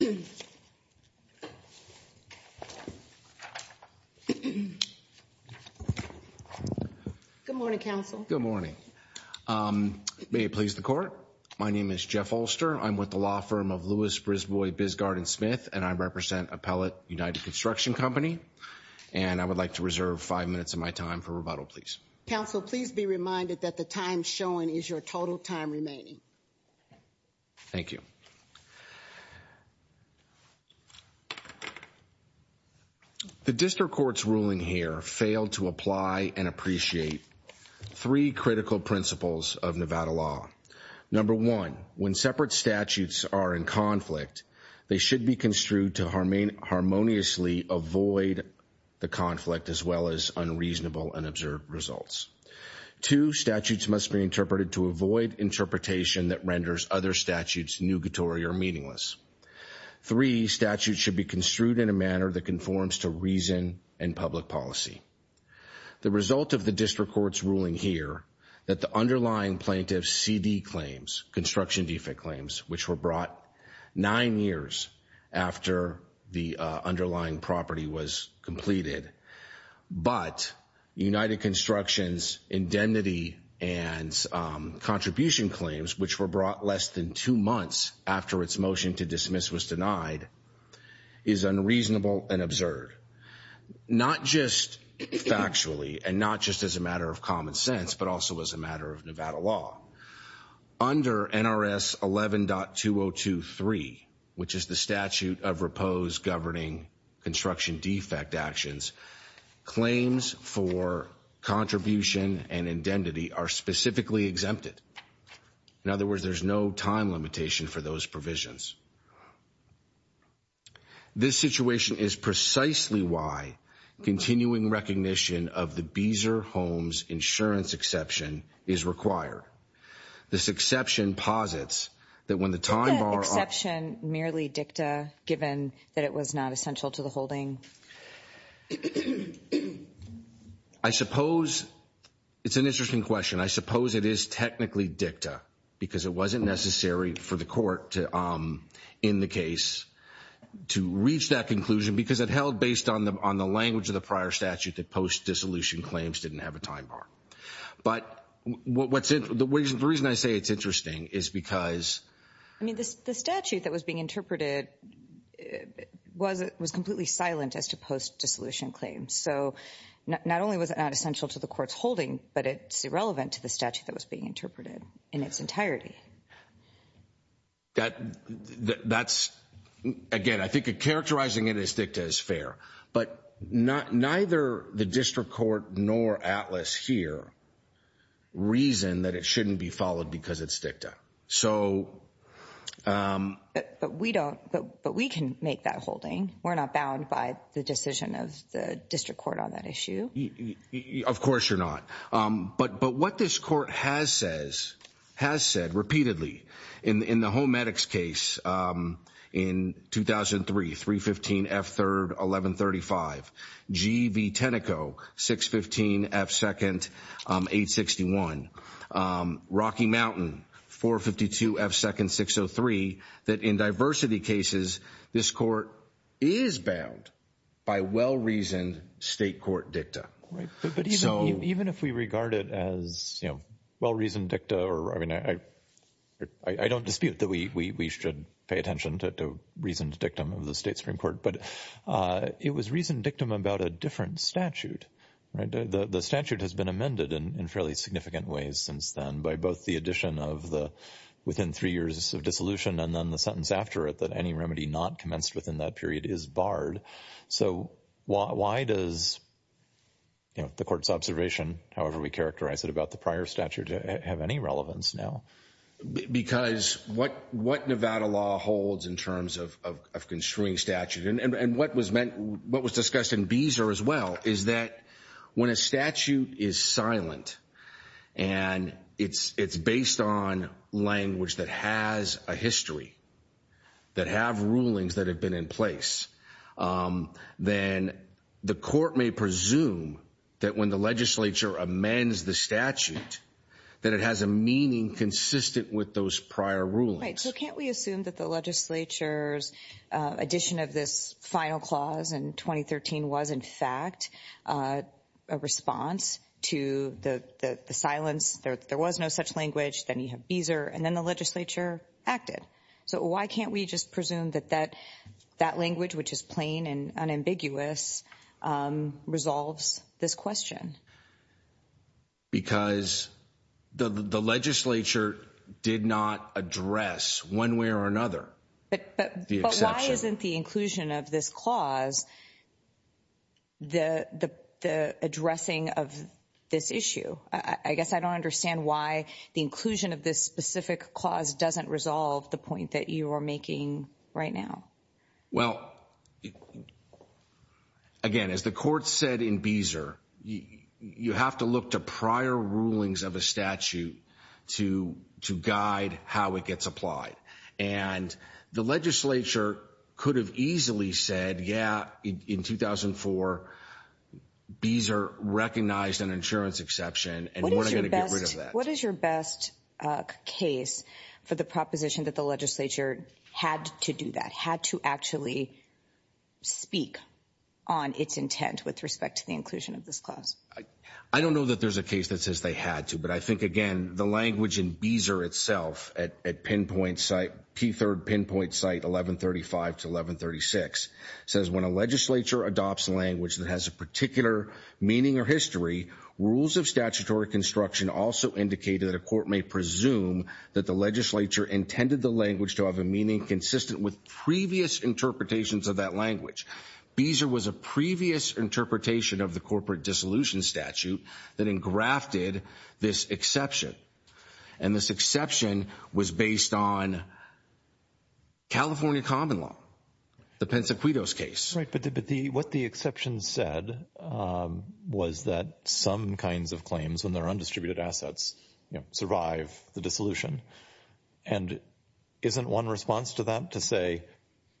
Good morning, counsel. Good morning. May it please the court. My name is Jeff Ulster. I'm with the law firm of Lewis, Brisbois, Bisgarden, Smith, and I represent Appellate United Construction Company, and I would like to reserve five minutes of my time for rebuttal, please. Counsel, please be reminded that the time shown is your total time remaining. Thank you. The district court's ruling here failed to apply and appreciate three critical principles of Nevada law. Number one, when separate statutes are in conflict, they should be construed to harmoniously avoid the conflict as well as unreasonable and absurd results. Two, statutes must be interpreted to avoid interpretation that renders other statutes nugatory or meaningless. Three, statutes should be construed in a manner that conforms to reason and public policy. The result of the district court's ruling here that the underlying plaintiff's CD claims, construction defect claims, which were brought nine years after the underlying property was completed, but United Construction's indemnity and contribution claims, which were brought less than two months after its motion to dismiss was denied, is unreasonable and absurd, not just factually and not just as a matter of common sense, but also as a matter of Nevada law. Under NRS 11.2023, which is the statute of repose governing construction defect actions, claims for contribution and indemnity are specifically exempted. In other words, there's no time limitation for those provisions. This situation is precisely why continuing recognition of the Beezer Homes insurance exception is required. This exception posits that when the time bar... Is that exception merely dicta, given that it was not essential to the holding? I suppose it's an interesting question. I suppose it is technically dicta, because it wasn't necessary for the court to, in the case, to reach that conclusion, because it held based on the language of the prior statute that post-dissolution claims didn't have a time bar. But the reason I say it's interesting is because... I mean, the statute that was being interpreted was completely silent as to post-dissolution claims. So, not only was it not essential to the court's holding, but it's irrelevant to the statute that was being interpreted in its entirety. That's, again, I think characterizing it as dicta is fair. But neither the district court nor ATLAS here reason that it shouldn't be followed because it's dicta. But we can make that holding. We're not bound by the decision of the district court on that issue. Of course you're not. But what this court has said repeatedly in the Home Medics case in 2003, 315 F. 3rd, 1135, G. V. Tenneco, 615 F. 2nd, 861, Rocky Mountain, 452 F. 2nd, 603, that in diversity cases, this court is bound by well-reasoned state court dicta. Right. But even if we regard it as, you know, well-reasoned dicta or, I mean, I don't dispute that we should pay attention to reasoned dictum of the state Supreme Court. But it was reasoned dictum about a different statute. The statute has been amended in fairly significant ways since then by both the addition of the within three years of dissolution and then the sentence after it that any remedy not commenced within that period is barred. So why does, you know, the court's observation, however we characterize it about the prior statute, have any relevance now? Because what Nevada law holds in terms of construing statute and what was meant, what was discussed in Beezer as well, is that when a statute is silent and it's based on language that has a history, that have rulings that have been in place, then the court may presume that when the legislature amends the statute, that it has a meaning consistent with those prior rulings. Right. So can't we assume that the legislature's addition of this final clause in 2013 was in fact a response to the silence? There was no such language. Then you have Beezer and then the legislature acted. So why can't we just presume that that language, which is plain and unambiguous, resolves this question? Because the legislature did not address one way or another the exception. But why isn't the inclusion of this clause the addressing of this issue? I guess I don't understand why the inclusion of this specific clause doesn't resolve the point that you are making right now. Well, again, as the court said in Beezer, you have to look to prior rulings of a statute to guide how it gets applied. And the legislature could have easily said, yeah, in 2004, Beezer recognized an insurance exception and we're not going to get rid of that. What is your best case for the proposition that the legislature had to do that, had to actually speak on its intent with respect to the inclusion of this clause? I don't know that there's a case that says they had to. But I think, again, the language in Beezer itself at Pinpoint site, P3rd Pinpoint site 1135 to 1136, says when a legislature adopts language that has a particular meaning or history, rules of statutory construction also indicated that a court may presume that the legislature intended the language to have a meaning consistent with previous interpretations of that language. Beezer was a previous interpretation of the corporate dissolution statute that engrafted this exception. And this exception was based on California common law, the Pensacuitos case. What the exception said was that some kinds of claims when they're undistributed assets, you know, survive the dissolution. And isn't one response to that to say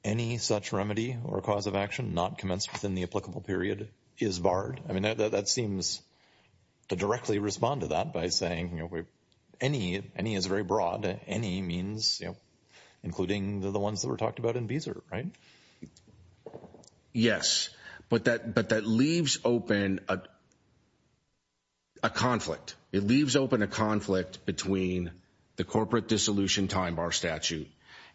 any such remedy or cause of action not commenced within the applicable period is barred? I mean, that seems to directly respond to that by saying, you know, any, any is very broad. Any means, you know, including the ones that were talked about in Beezer, right? Yes. But that, but that leaves open a conflict. It leaves open a conflict between the corporate dissolution time bar statute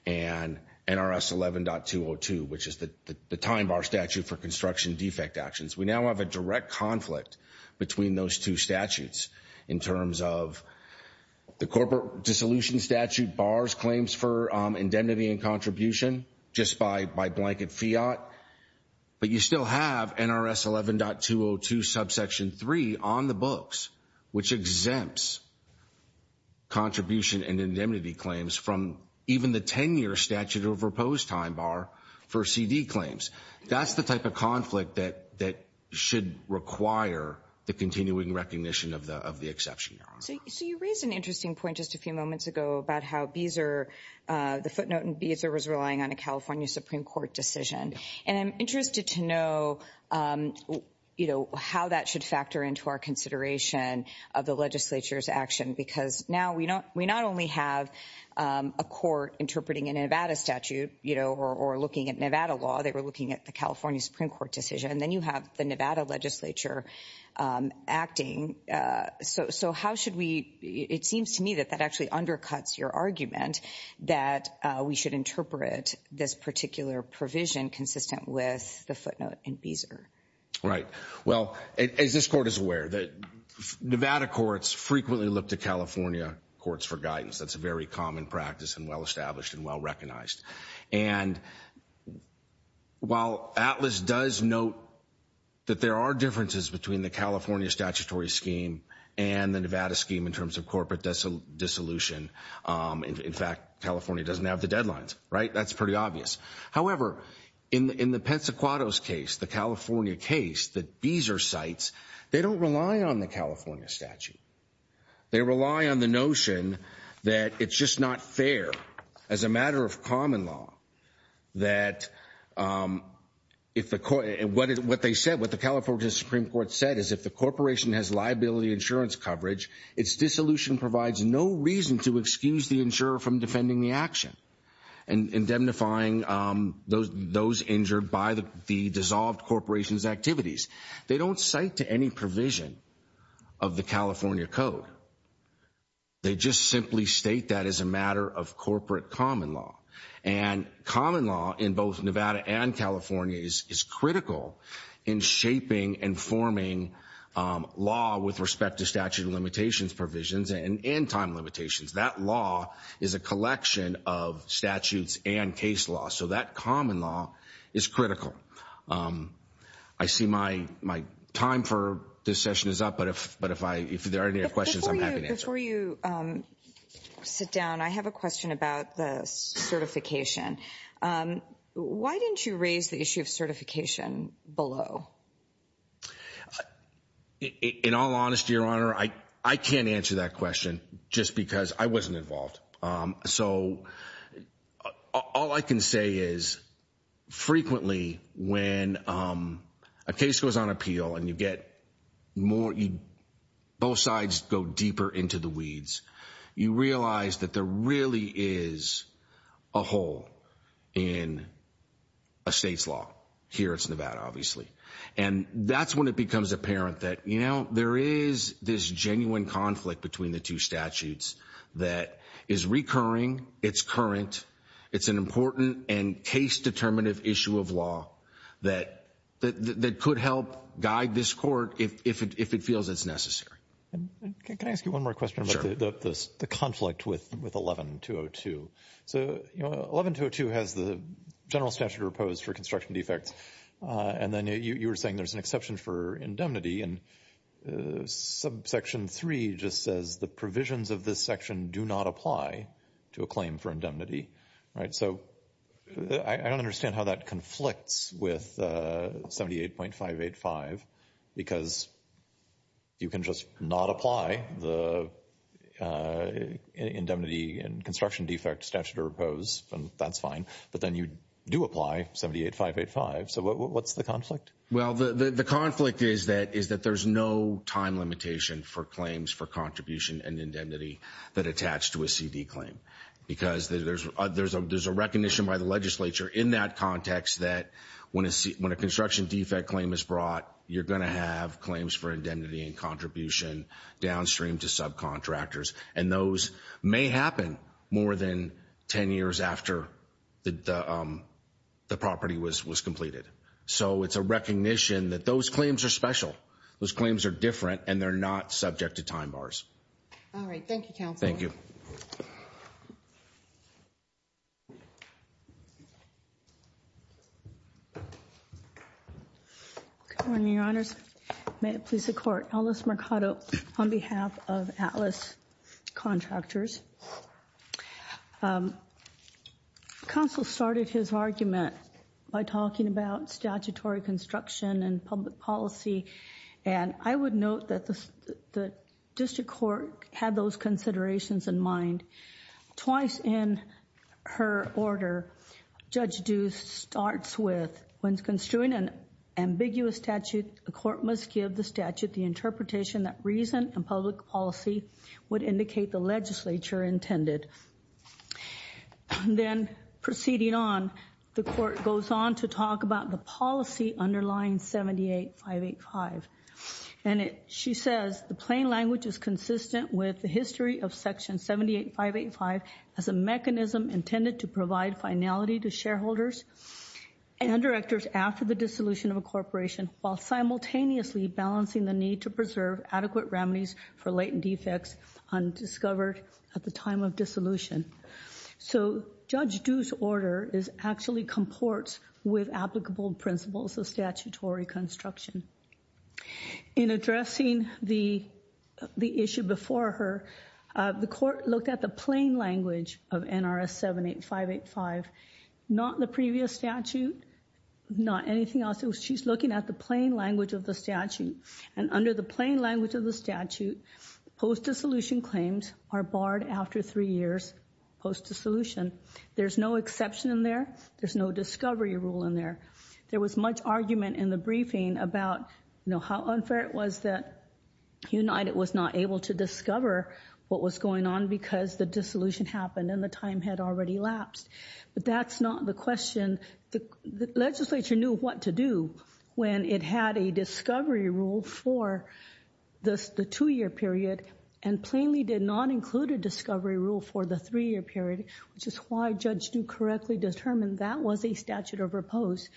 and NRS 11.202, which is the time bar statute for construction defect actions. We now have a direct conflict between those two statutes in terms of the corporate dissolution statute bars claims for indemnity and contribution just by blanket fiat. But you still have NRS 11.202 subsection three on the books, which exempts contribution and indemnity claims from even the 10 year statute over post time bar for CD claims. That's the type of conflict that, that should require the continuing recognition of the, of the exception. So you raised an interesting point just a few moments ago about how Beezer, the footnote in Beezer was relying on a California Supreme Court decision. And I'm interested to know, you know, how that should factor into our consideration of the legislature's action, because now we don't, we not only have a court interpreting a Nevada statute, you know, or, or looking at Nevada law, they were looking at the California Supreme Court decision, and then you have the Nevada legislature acting. So, so how should we, it seems to me that that actually undercuts your argument that we should interpret this particular provision consistent with the footnote in Beezer. Right. Well, as this court is aware that Nevada courts frequently look to California courts for guidance. That's a very common practice and well-established and well-recognized. And while Atlas does note that there are between the California statutory scheme and the Nevada scheme in terms of corporate dissolution. In fact, California doesn't have the deadlines, right? That's pretty obvious. However, in the, in the Pensacuato's case, the California case that Beezer cites, they don't rely on the California statute. They rely on the notion that it's just not fair as a matter of common law, that if the court, and what, what they said, what the California Supreme Court said is if the corporation has liability insurance coverage, its dissolution provides no reason to excuse the insurer from defending the action and indemnifying those, those injured by the, the dissolved corporation's activities. They don't cite to any provision of the California code. They just simply state that as a matter of corporate common law. And common law in both Nevada and California is, is critical in shaping and forming law with respect to statute of limitations provisions and, and time limitations. That law is a collection of statutes and case law. So that common law is critical. Um, I see my, my time for this session is up, but if, but if I, if there are any questions, I'm happy to answer. Before you, before you, um, sit down, I have a question about the certification. Um, why didn't you raise the issue of certification below? In all honesty, Your Honor, I, I can't answer that question just because I wasn't involved. Um, so all I can say is frequently when, um, a case goes on appeal and you get more, you, both sides go deeper into the weeds. You realize that there really is a hole in a state's law. Here it's Nevada, obviously. And that's when it becomes apparent that, you know, there is this genuine conflict between the two statutes that is recurring, it's current, it's an important and case determinative issue of law that, that, that could help guide this court if, if it, if it feels it's necessary. Can I ask you one more question about the, the, the conflict with, with 11-202? So, you know, 11-202 has the general statute opposed for construction defects. And then you were saying there's an exception for indemnity and subsection 3 just says the provisions of this section do not apply to a claim for indemnity, right? So I don't understand how that conflicts with 78.585 because you can just not apply the indemnity and construction statute or oppose and that's fine. But then you do apply 78.585. So what's the conflict? Well, the, the, the conflict is that, is that there's no time limitation for claims for contribution and indemnity that attached to a CD claim because there's, there's a, there's a recognition by the legislature in that context that when a C, when a construction defect claim is brought, you're going to have claims for indemnity and contribution downstream to subcontractors. And those may happen more than 10 years after the, the, the property was, was completed. So it's a recognition that those claims are special. Those claims are different and they're not subject to time bars. All right. Thank you, counsel. Thank you. Good morning, your honors. May it please the court. Alice Mercado on behalf of Atlas Contractors. Counsel started his argument by talking about statutory construction and public policy. And I would note that the, the district court had those considerations in mind twice in her order. Judge Deuce starts with, when construing an ambiguous statute, the court must give the statute the interpretation that reason and public policy would indicate the legislature intended. Then proceeding on, the court goes on to talk about the policy underlying 78.585. And it, she says, the plain language is consistent with the history of section 78.585 as a mechanism intended to provide finality to shareholders and directors after the dissolution of a corporation while simultaneously balancing the need to preserve adequate remedies for latent defects undiscovered at the time of dissolution. So Judge Deuce's order is actually comports with applicable principles of statutory construction. In addressing the, the issue before her, the court looked at the plain language of NRS 78.585, not the previous statute, not anything else. She's looking at the plain language of the statute. And under the plain language of the statute, post-dissolution claims are barred after three years post-dissolution. There's no exception in there. There's no discovery rule in there. There was much argument in the briefing about, you know, how unfair it was that United was not able to discover what was going on because the dissolution happened and the time had already lapsed. But that's not the question. The legislature knew what to do when it had a discovery rule for the two-year period and plainly did not include a discovery rule for the three-year period, which is why Judge Deuce correctly determined that was a statute of repose.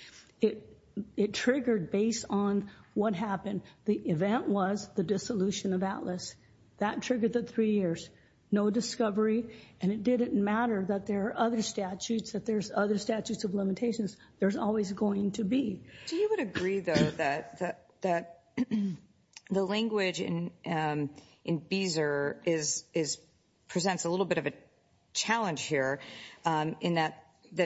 It triggered based on what happened. The event was the dissolution of Atlas. That triggered the three years. No discovery. And it didn't matter that there are other statutes, that there's other statutes of limitations. There's always going to be. Do you agree, though, that the language in Beezer presents a little bit of a challenge here in that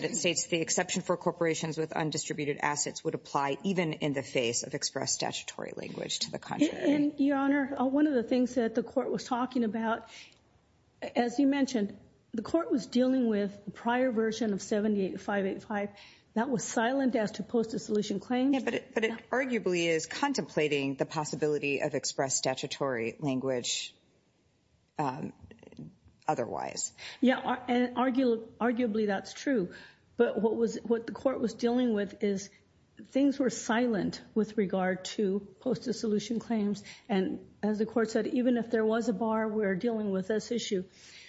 it states the exception for corporations with undistributed assets would apply even in the face of express statutory language to the country? And, Your Honor, one of the things that the court was talking about, as you mentioned, the court was dealing with the prior version of 78-585. That was silent as to post-dissolution claims. Yeah, but it arguably is contemplating the possibility of express statutory language otherwise. Yeah, and arguably that's true. But what the court was dealing with is things were silent with regard to post-dissolution claims. And as the court said, even if there was a bar, we're dealing with this issue.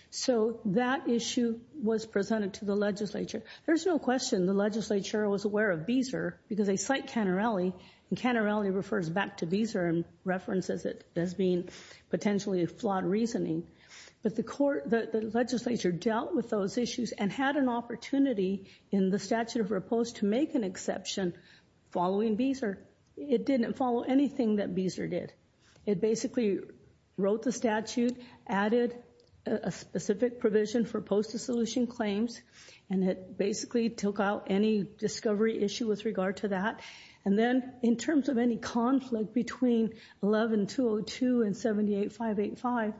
So that issue was presented to the legislature. There's no question the legislature was aware of Beezer because they and Cannarelli refers back to Beezer and references it as being potentially a flawed reasoning. But the legislature dealt with those issues and had an opportunity in the statute of repose to make an exception following Beezer. It didn't follow anything that Beezer did. It basically wrote the statute, added a specific provision for post-dissolution claims, and it basically took out any discovery issue with regard to that. And then in terms of any conflict between 11-202 and 78-585,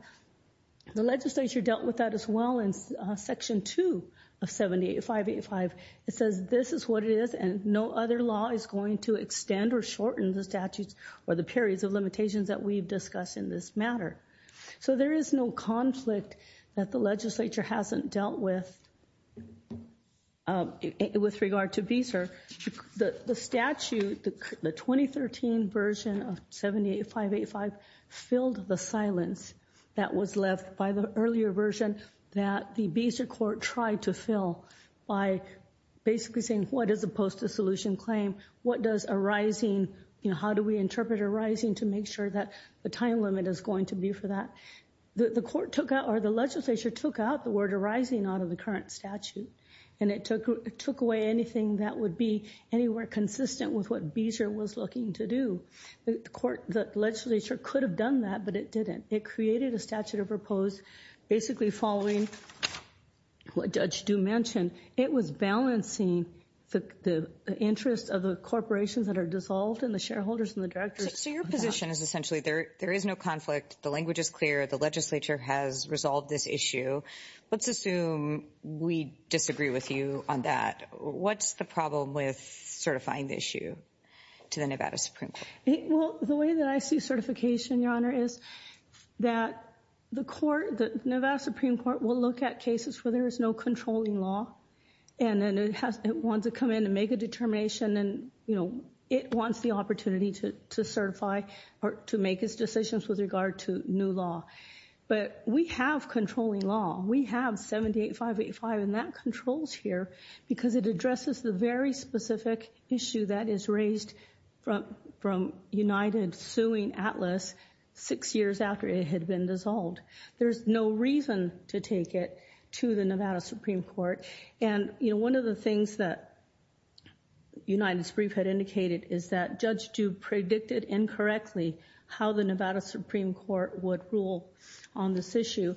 the legislature dealt with that as well in section 2 of 78-585. It says this is what it is and no other law is going to extend or shorten the statutes or the periods of limitations that we've discussed in this matter. So there is no conflict that the legislature hasn't dealt with with regard to Beezer. The statute, the 2013 version of 78-585 filled the silence that was left by the earlier version that the Beezer court tried to fill by basically saying what is a post-dissolution claim? What does a rising, you know, how do we interpret a rising to make sure that the time limit is going to be for that? The court took out or the legislature took out the word arising out of the current statute and it took away anything that would be anywhere consistent with what Beezer was looking to do. The court, the legislature could have done that, but it didn't. It created a statute of repose basically following what Judge Dew mentioned. It was balancing the interests of the corporations that are dissolved and the shareholders and the directors. So your position is essentially there is no conflict, the language is clear, the legislature has resolved this issue. Let's assume we disagree with you on that. What's the problem with certifying the issue to the Nevada Supreme Court? Well, the way that I see certification, Your Honor, is that the court, the Nevada Supreme Court will look at cases where there is no controlling law and then it wants to come in make a determination and, you know, it wants the opportunity to certify or to make its decisions with regard to new law. But we have controlling law. We have 78-585 and that controls here because it addresses the very specific issue that is raised from United suing Atlas six years after it had been dissolved. There's no reason to take it to the Nevada Supreme Court. And, you know, one of the things that United's brief had indicated is that Judge Dew predicted incorrectly how the Nevada Supreme Court would rule on this issue.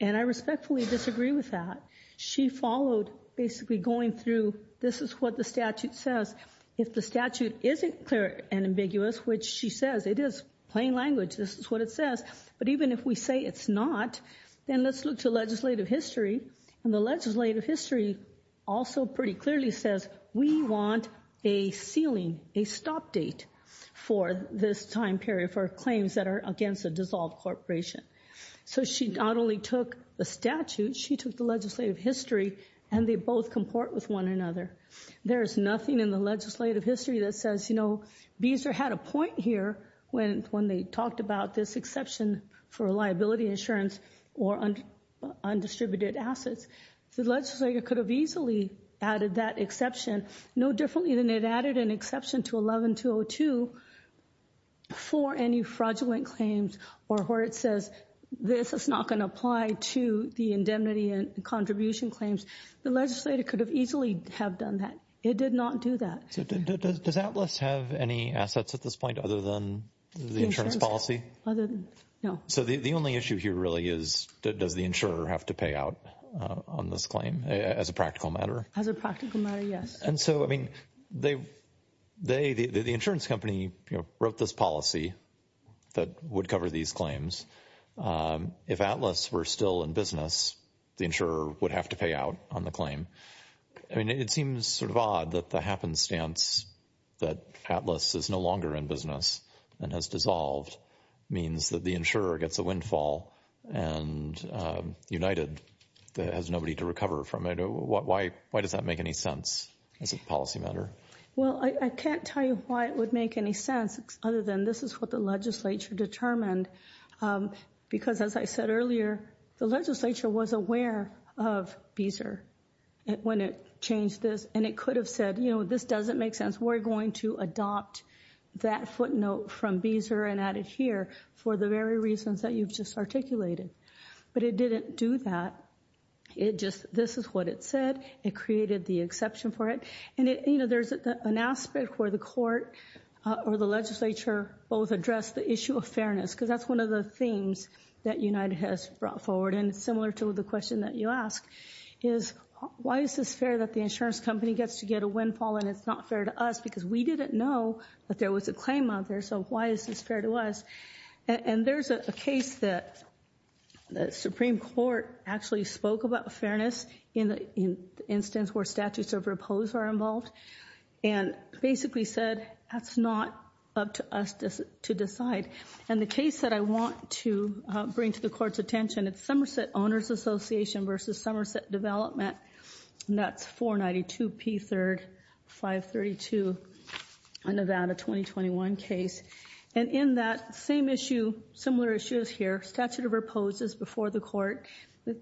And I respectfully disagree with that. She followed basically going through, this is what the statute says. If the statute isn't clear and ambiguous, which she says it is, plain language, this is what it says, but even if we say it's not, then let's look to legislative history and the legislative history also pretty clearly says we want a ceiling, a stop date for this time period for claims that are against a dissolved corporation. So she not only took the statute, she took the legislative history and they both comport with one another. There is nothing in the legislative history that says, you know, Beezer had a point here when they talked about this liability insurance or undistributed assets. The legislator could have easily added that exception no differently than it added an exception to 11202 for any fraudulent claims or where it says this is not going to apply to the indemnity and contribution claims. The legislator could have easily have done that. It did not do that. Does Atlas have any assets at this point other than the insurance policy? No. So the only issue here really is, does the insurer have to pay out on this claim as a practical matter? As a practical matter, yes. And so, I mean, they, the insurance company wrote this policy that would cover these claims. If Atlas were still in business, the insurer would have to pay out on the claim. I mean, it seems sort of odd that the happenstance that Atlas is no longer in business and has dissolved means that the insurer gets a windfall and United has nobody to recover from it. Why does that make any sense as a policy matter? Well, I can't tell you why it would make any sense other than this is what the legislature determined. Because as I said earlier, the legislature was aware of Beezer when it changed this and it could have said, you know, this doesn't make sense. We're going to adopt that footnote from Beezer and add it here for the very reasons that you've just articulated. But it didn't do that. It just, this is what it said. It created the exception for it. And, you know, there's an aspect where the court or the legislature both address the issue of fairness, because that's one of the themes that United has brought forward. And similar to the question that you ask is why is this fair that the insurance company gets to get a windfall and it's not fair to us because we didn't know that there was a claim out there. So why is this fair to us? And there's a case that the Supreme Court actually spoke about fairness in the instance where statutes of repose are involved and basically said that's not up to us to decide. And the case that I want to bring to the court's attention, it's Somerset Owners Association versus Somerset Development. That's 492 P3rd 532, a Nevada 2021 case. And in that same issue, similar issues here, statute of repose is before the court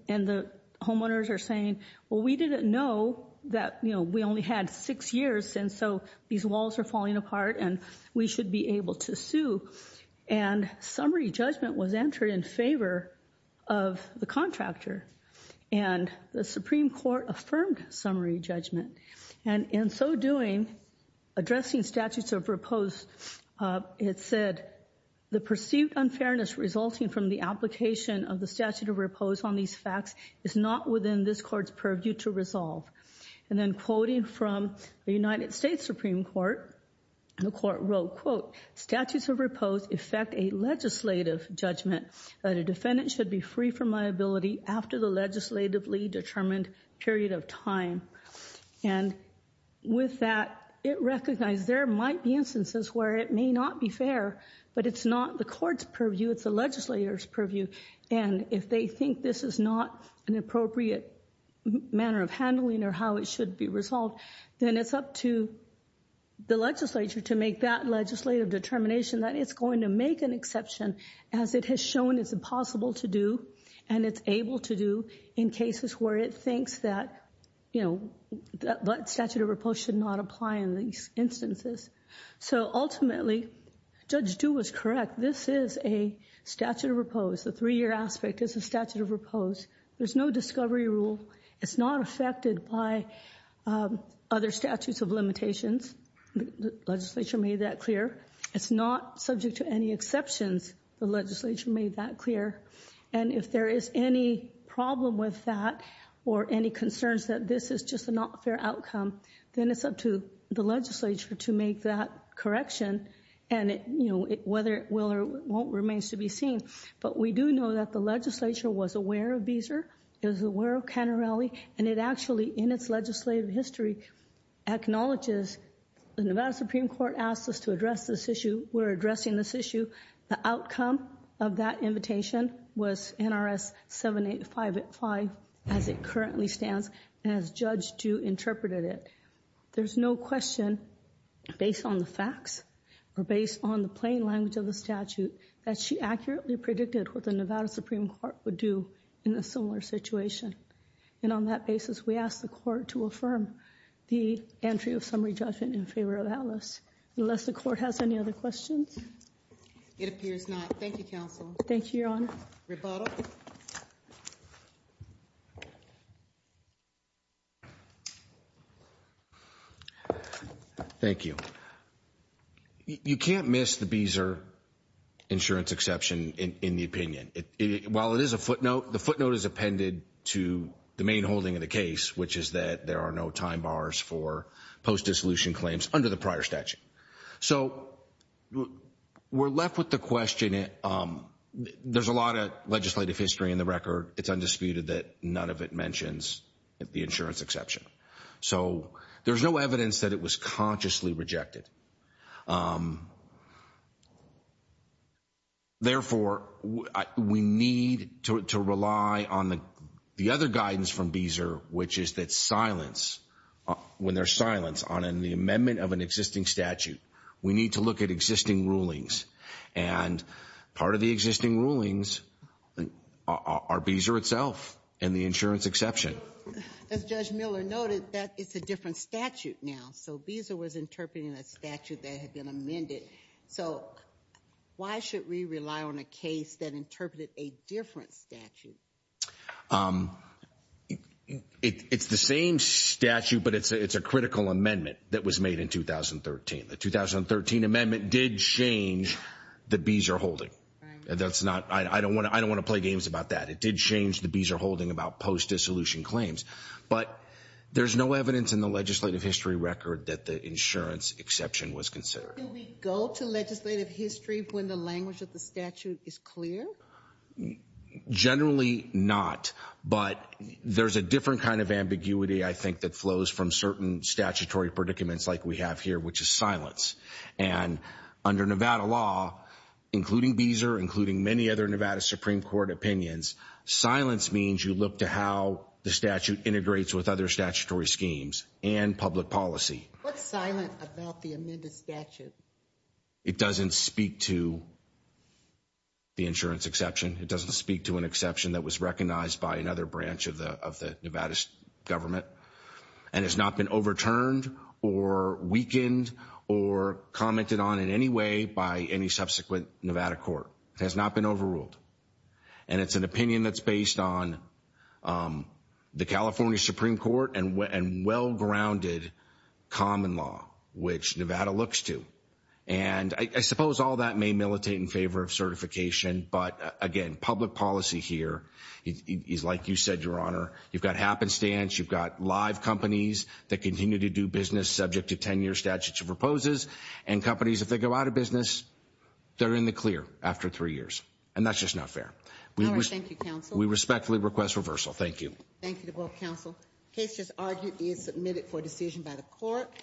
and the homeowners are saying, well, we didn't know that, you know, we only had six years and so these walls are falling apart and we should be able to and summary judgment was entered in favor of the contractor and the Supreme Court affirmed summary judgment. And in so doing, addressing statutes of repose, it said the perceived unfairness resulting from the application of the statute of repose on these facts is not within this court's purview to resolve. And then quoting from the United States Supreme Court, the court wrote, quote, statutes of repose affect a legislative judgment that a defendant should be free from liability after the legislatively determined period of time. And with that, it recognized there might be instances where it may not be fair, but it's not the court's purview, it's the legislator's purview. And if they think this is not an appropriate manner of handling or how it should be resolved, then it's up to the legislature to make that legislative determination that it's going to make an exception as it has shown it's impossible to do and it's able to do in cases where it thinks that, you know, that statute of repose should not apply in these instances. So ultimately, Judge Du was correct. This is a statute of repose. The three-year aspect is a statute of repose. There's no discovery rule. It's not affected by other statutes of limitations. The legislature made that clear. It's not subject to any exceptions. The legislature made that clear. And if there is any problem with that or any concerns that this is just a not fair outcome, then it's up to the legislature to make that correction. And, you know, whether it will or won't remains to be seen. But we do know that the legislature was aware of Beezer. It was aware of Cannarelli. And it actually, in its legislative history, acknowledges the Nevada Supreme Court asked us to address this issue. We're addressing this issue. The outcome of that invitation was NRS 785 as it currently stands as Judge Du interpreted it. There's no question, based on the facts or based on the plain language of the statute, that she accurately predicted what the Nevada Supreme Court would do in a similar situation. And on that basis, we ask the court to affirm the entry of summary judgment in favor of Alice. Unless the court has any other questions. It appears not. Thank you, counsel. Thank you, Your Honor. Rebuttal. Thank you. You can't miss the Beezer insurance exception in the opinion. While it is a footnote, the footnote is appended to the main holding of the case, which is that there are no time bars for post-dissolution claims under the prior statute. So we're left with the question. And there's a lot of legislative history in the record. It's undisputed that none of it mentions the insurance exception. So there's no evidence that it was consciously rejected. Therefore, we need to rely on the other guidance from Beezer, which is that silence, when there's silence on the amendment of an existing statute, we need to look at existing rulings. And part of the existing rulings are Beezer itself and the insurance exception. As Judge Miller noted, that it's a different statute now. So Beezer was interpreting a statute that had been amended. So why should we rely on a case that interpreted a different statute? It's the same statute, but it's a critical amendment that was made in 2013. The 2013 amendment did change the Beezer holding. I don't want to play games about that. It did change the Beezer holding about post-dissolution claims. But there's no evidence in the legislative history record that the insurance exception was considered. Do we go to legislative history when the language of the statute is clear? Generally not. But there's a different kind of ambiguity, I think, that flows from certain statutory predicaments like we have here, which is silence. And under Nevada law, including Beezer, including many other Nevada Supreme Court opinions, silence means you look to how the statute integrates with other statutory schemes and public policy. What's silent about the amended statute? It doesn't speak to the insurance exception. It doesn't speak to an exemption that was recognized by another branch of the Nevada government and has not been overturned or weakened or commented on in any way by any subsequent Nevada court. It has not been overruled. And it's an opinion that's based on the California Supreme Court and well-grounded common law, which Nevada looks to. And I suppose all that may militate in favor of certification, but again, public policy here is like you said, Your Honor. You've got happenstance. You've got live companies that continue to do business subject to 10-year statutory proposals. And companies, if they go out of business, they're in the clear after three years. And that's just not fair. We respectfully request reversal. Thank you. Thank you to both counsel. Case just argued is submitted for decision by the court.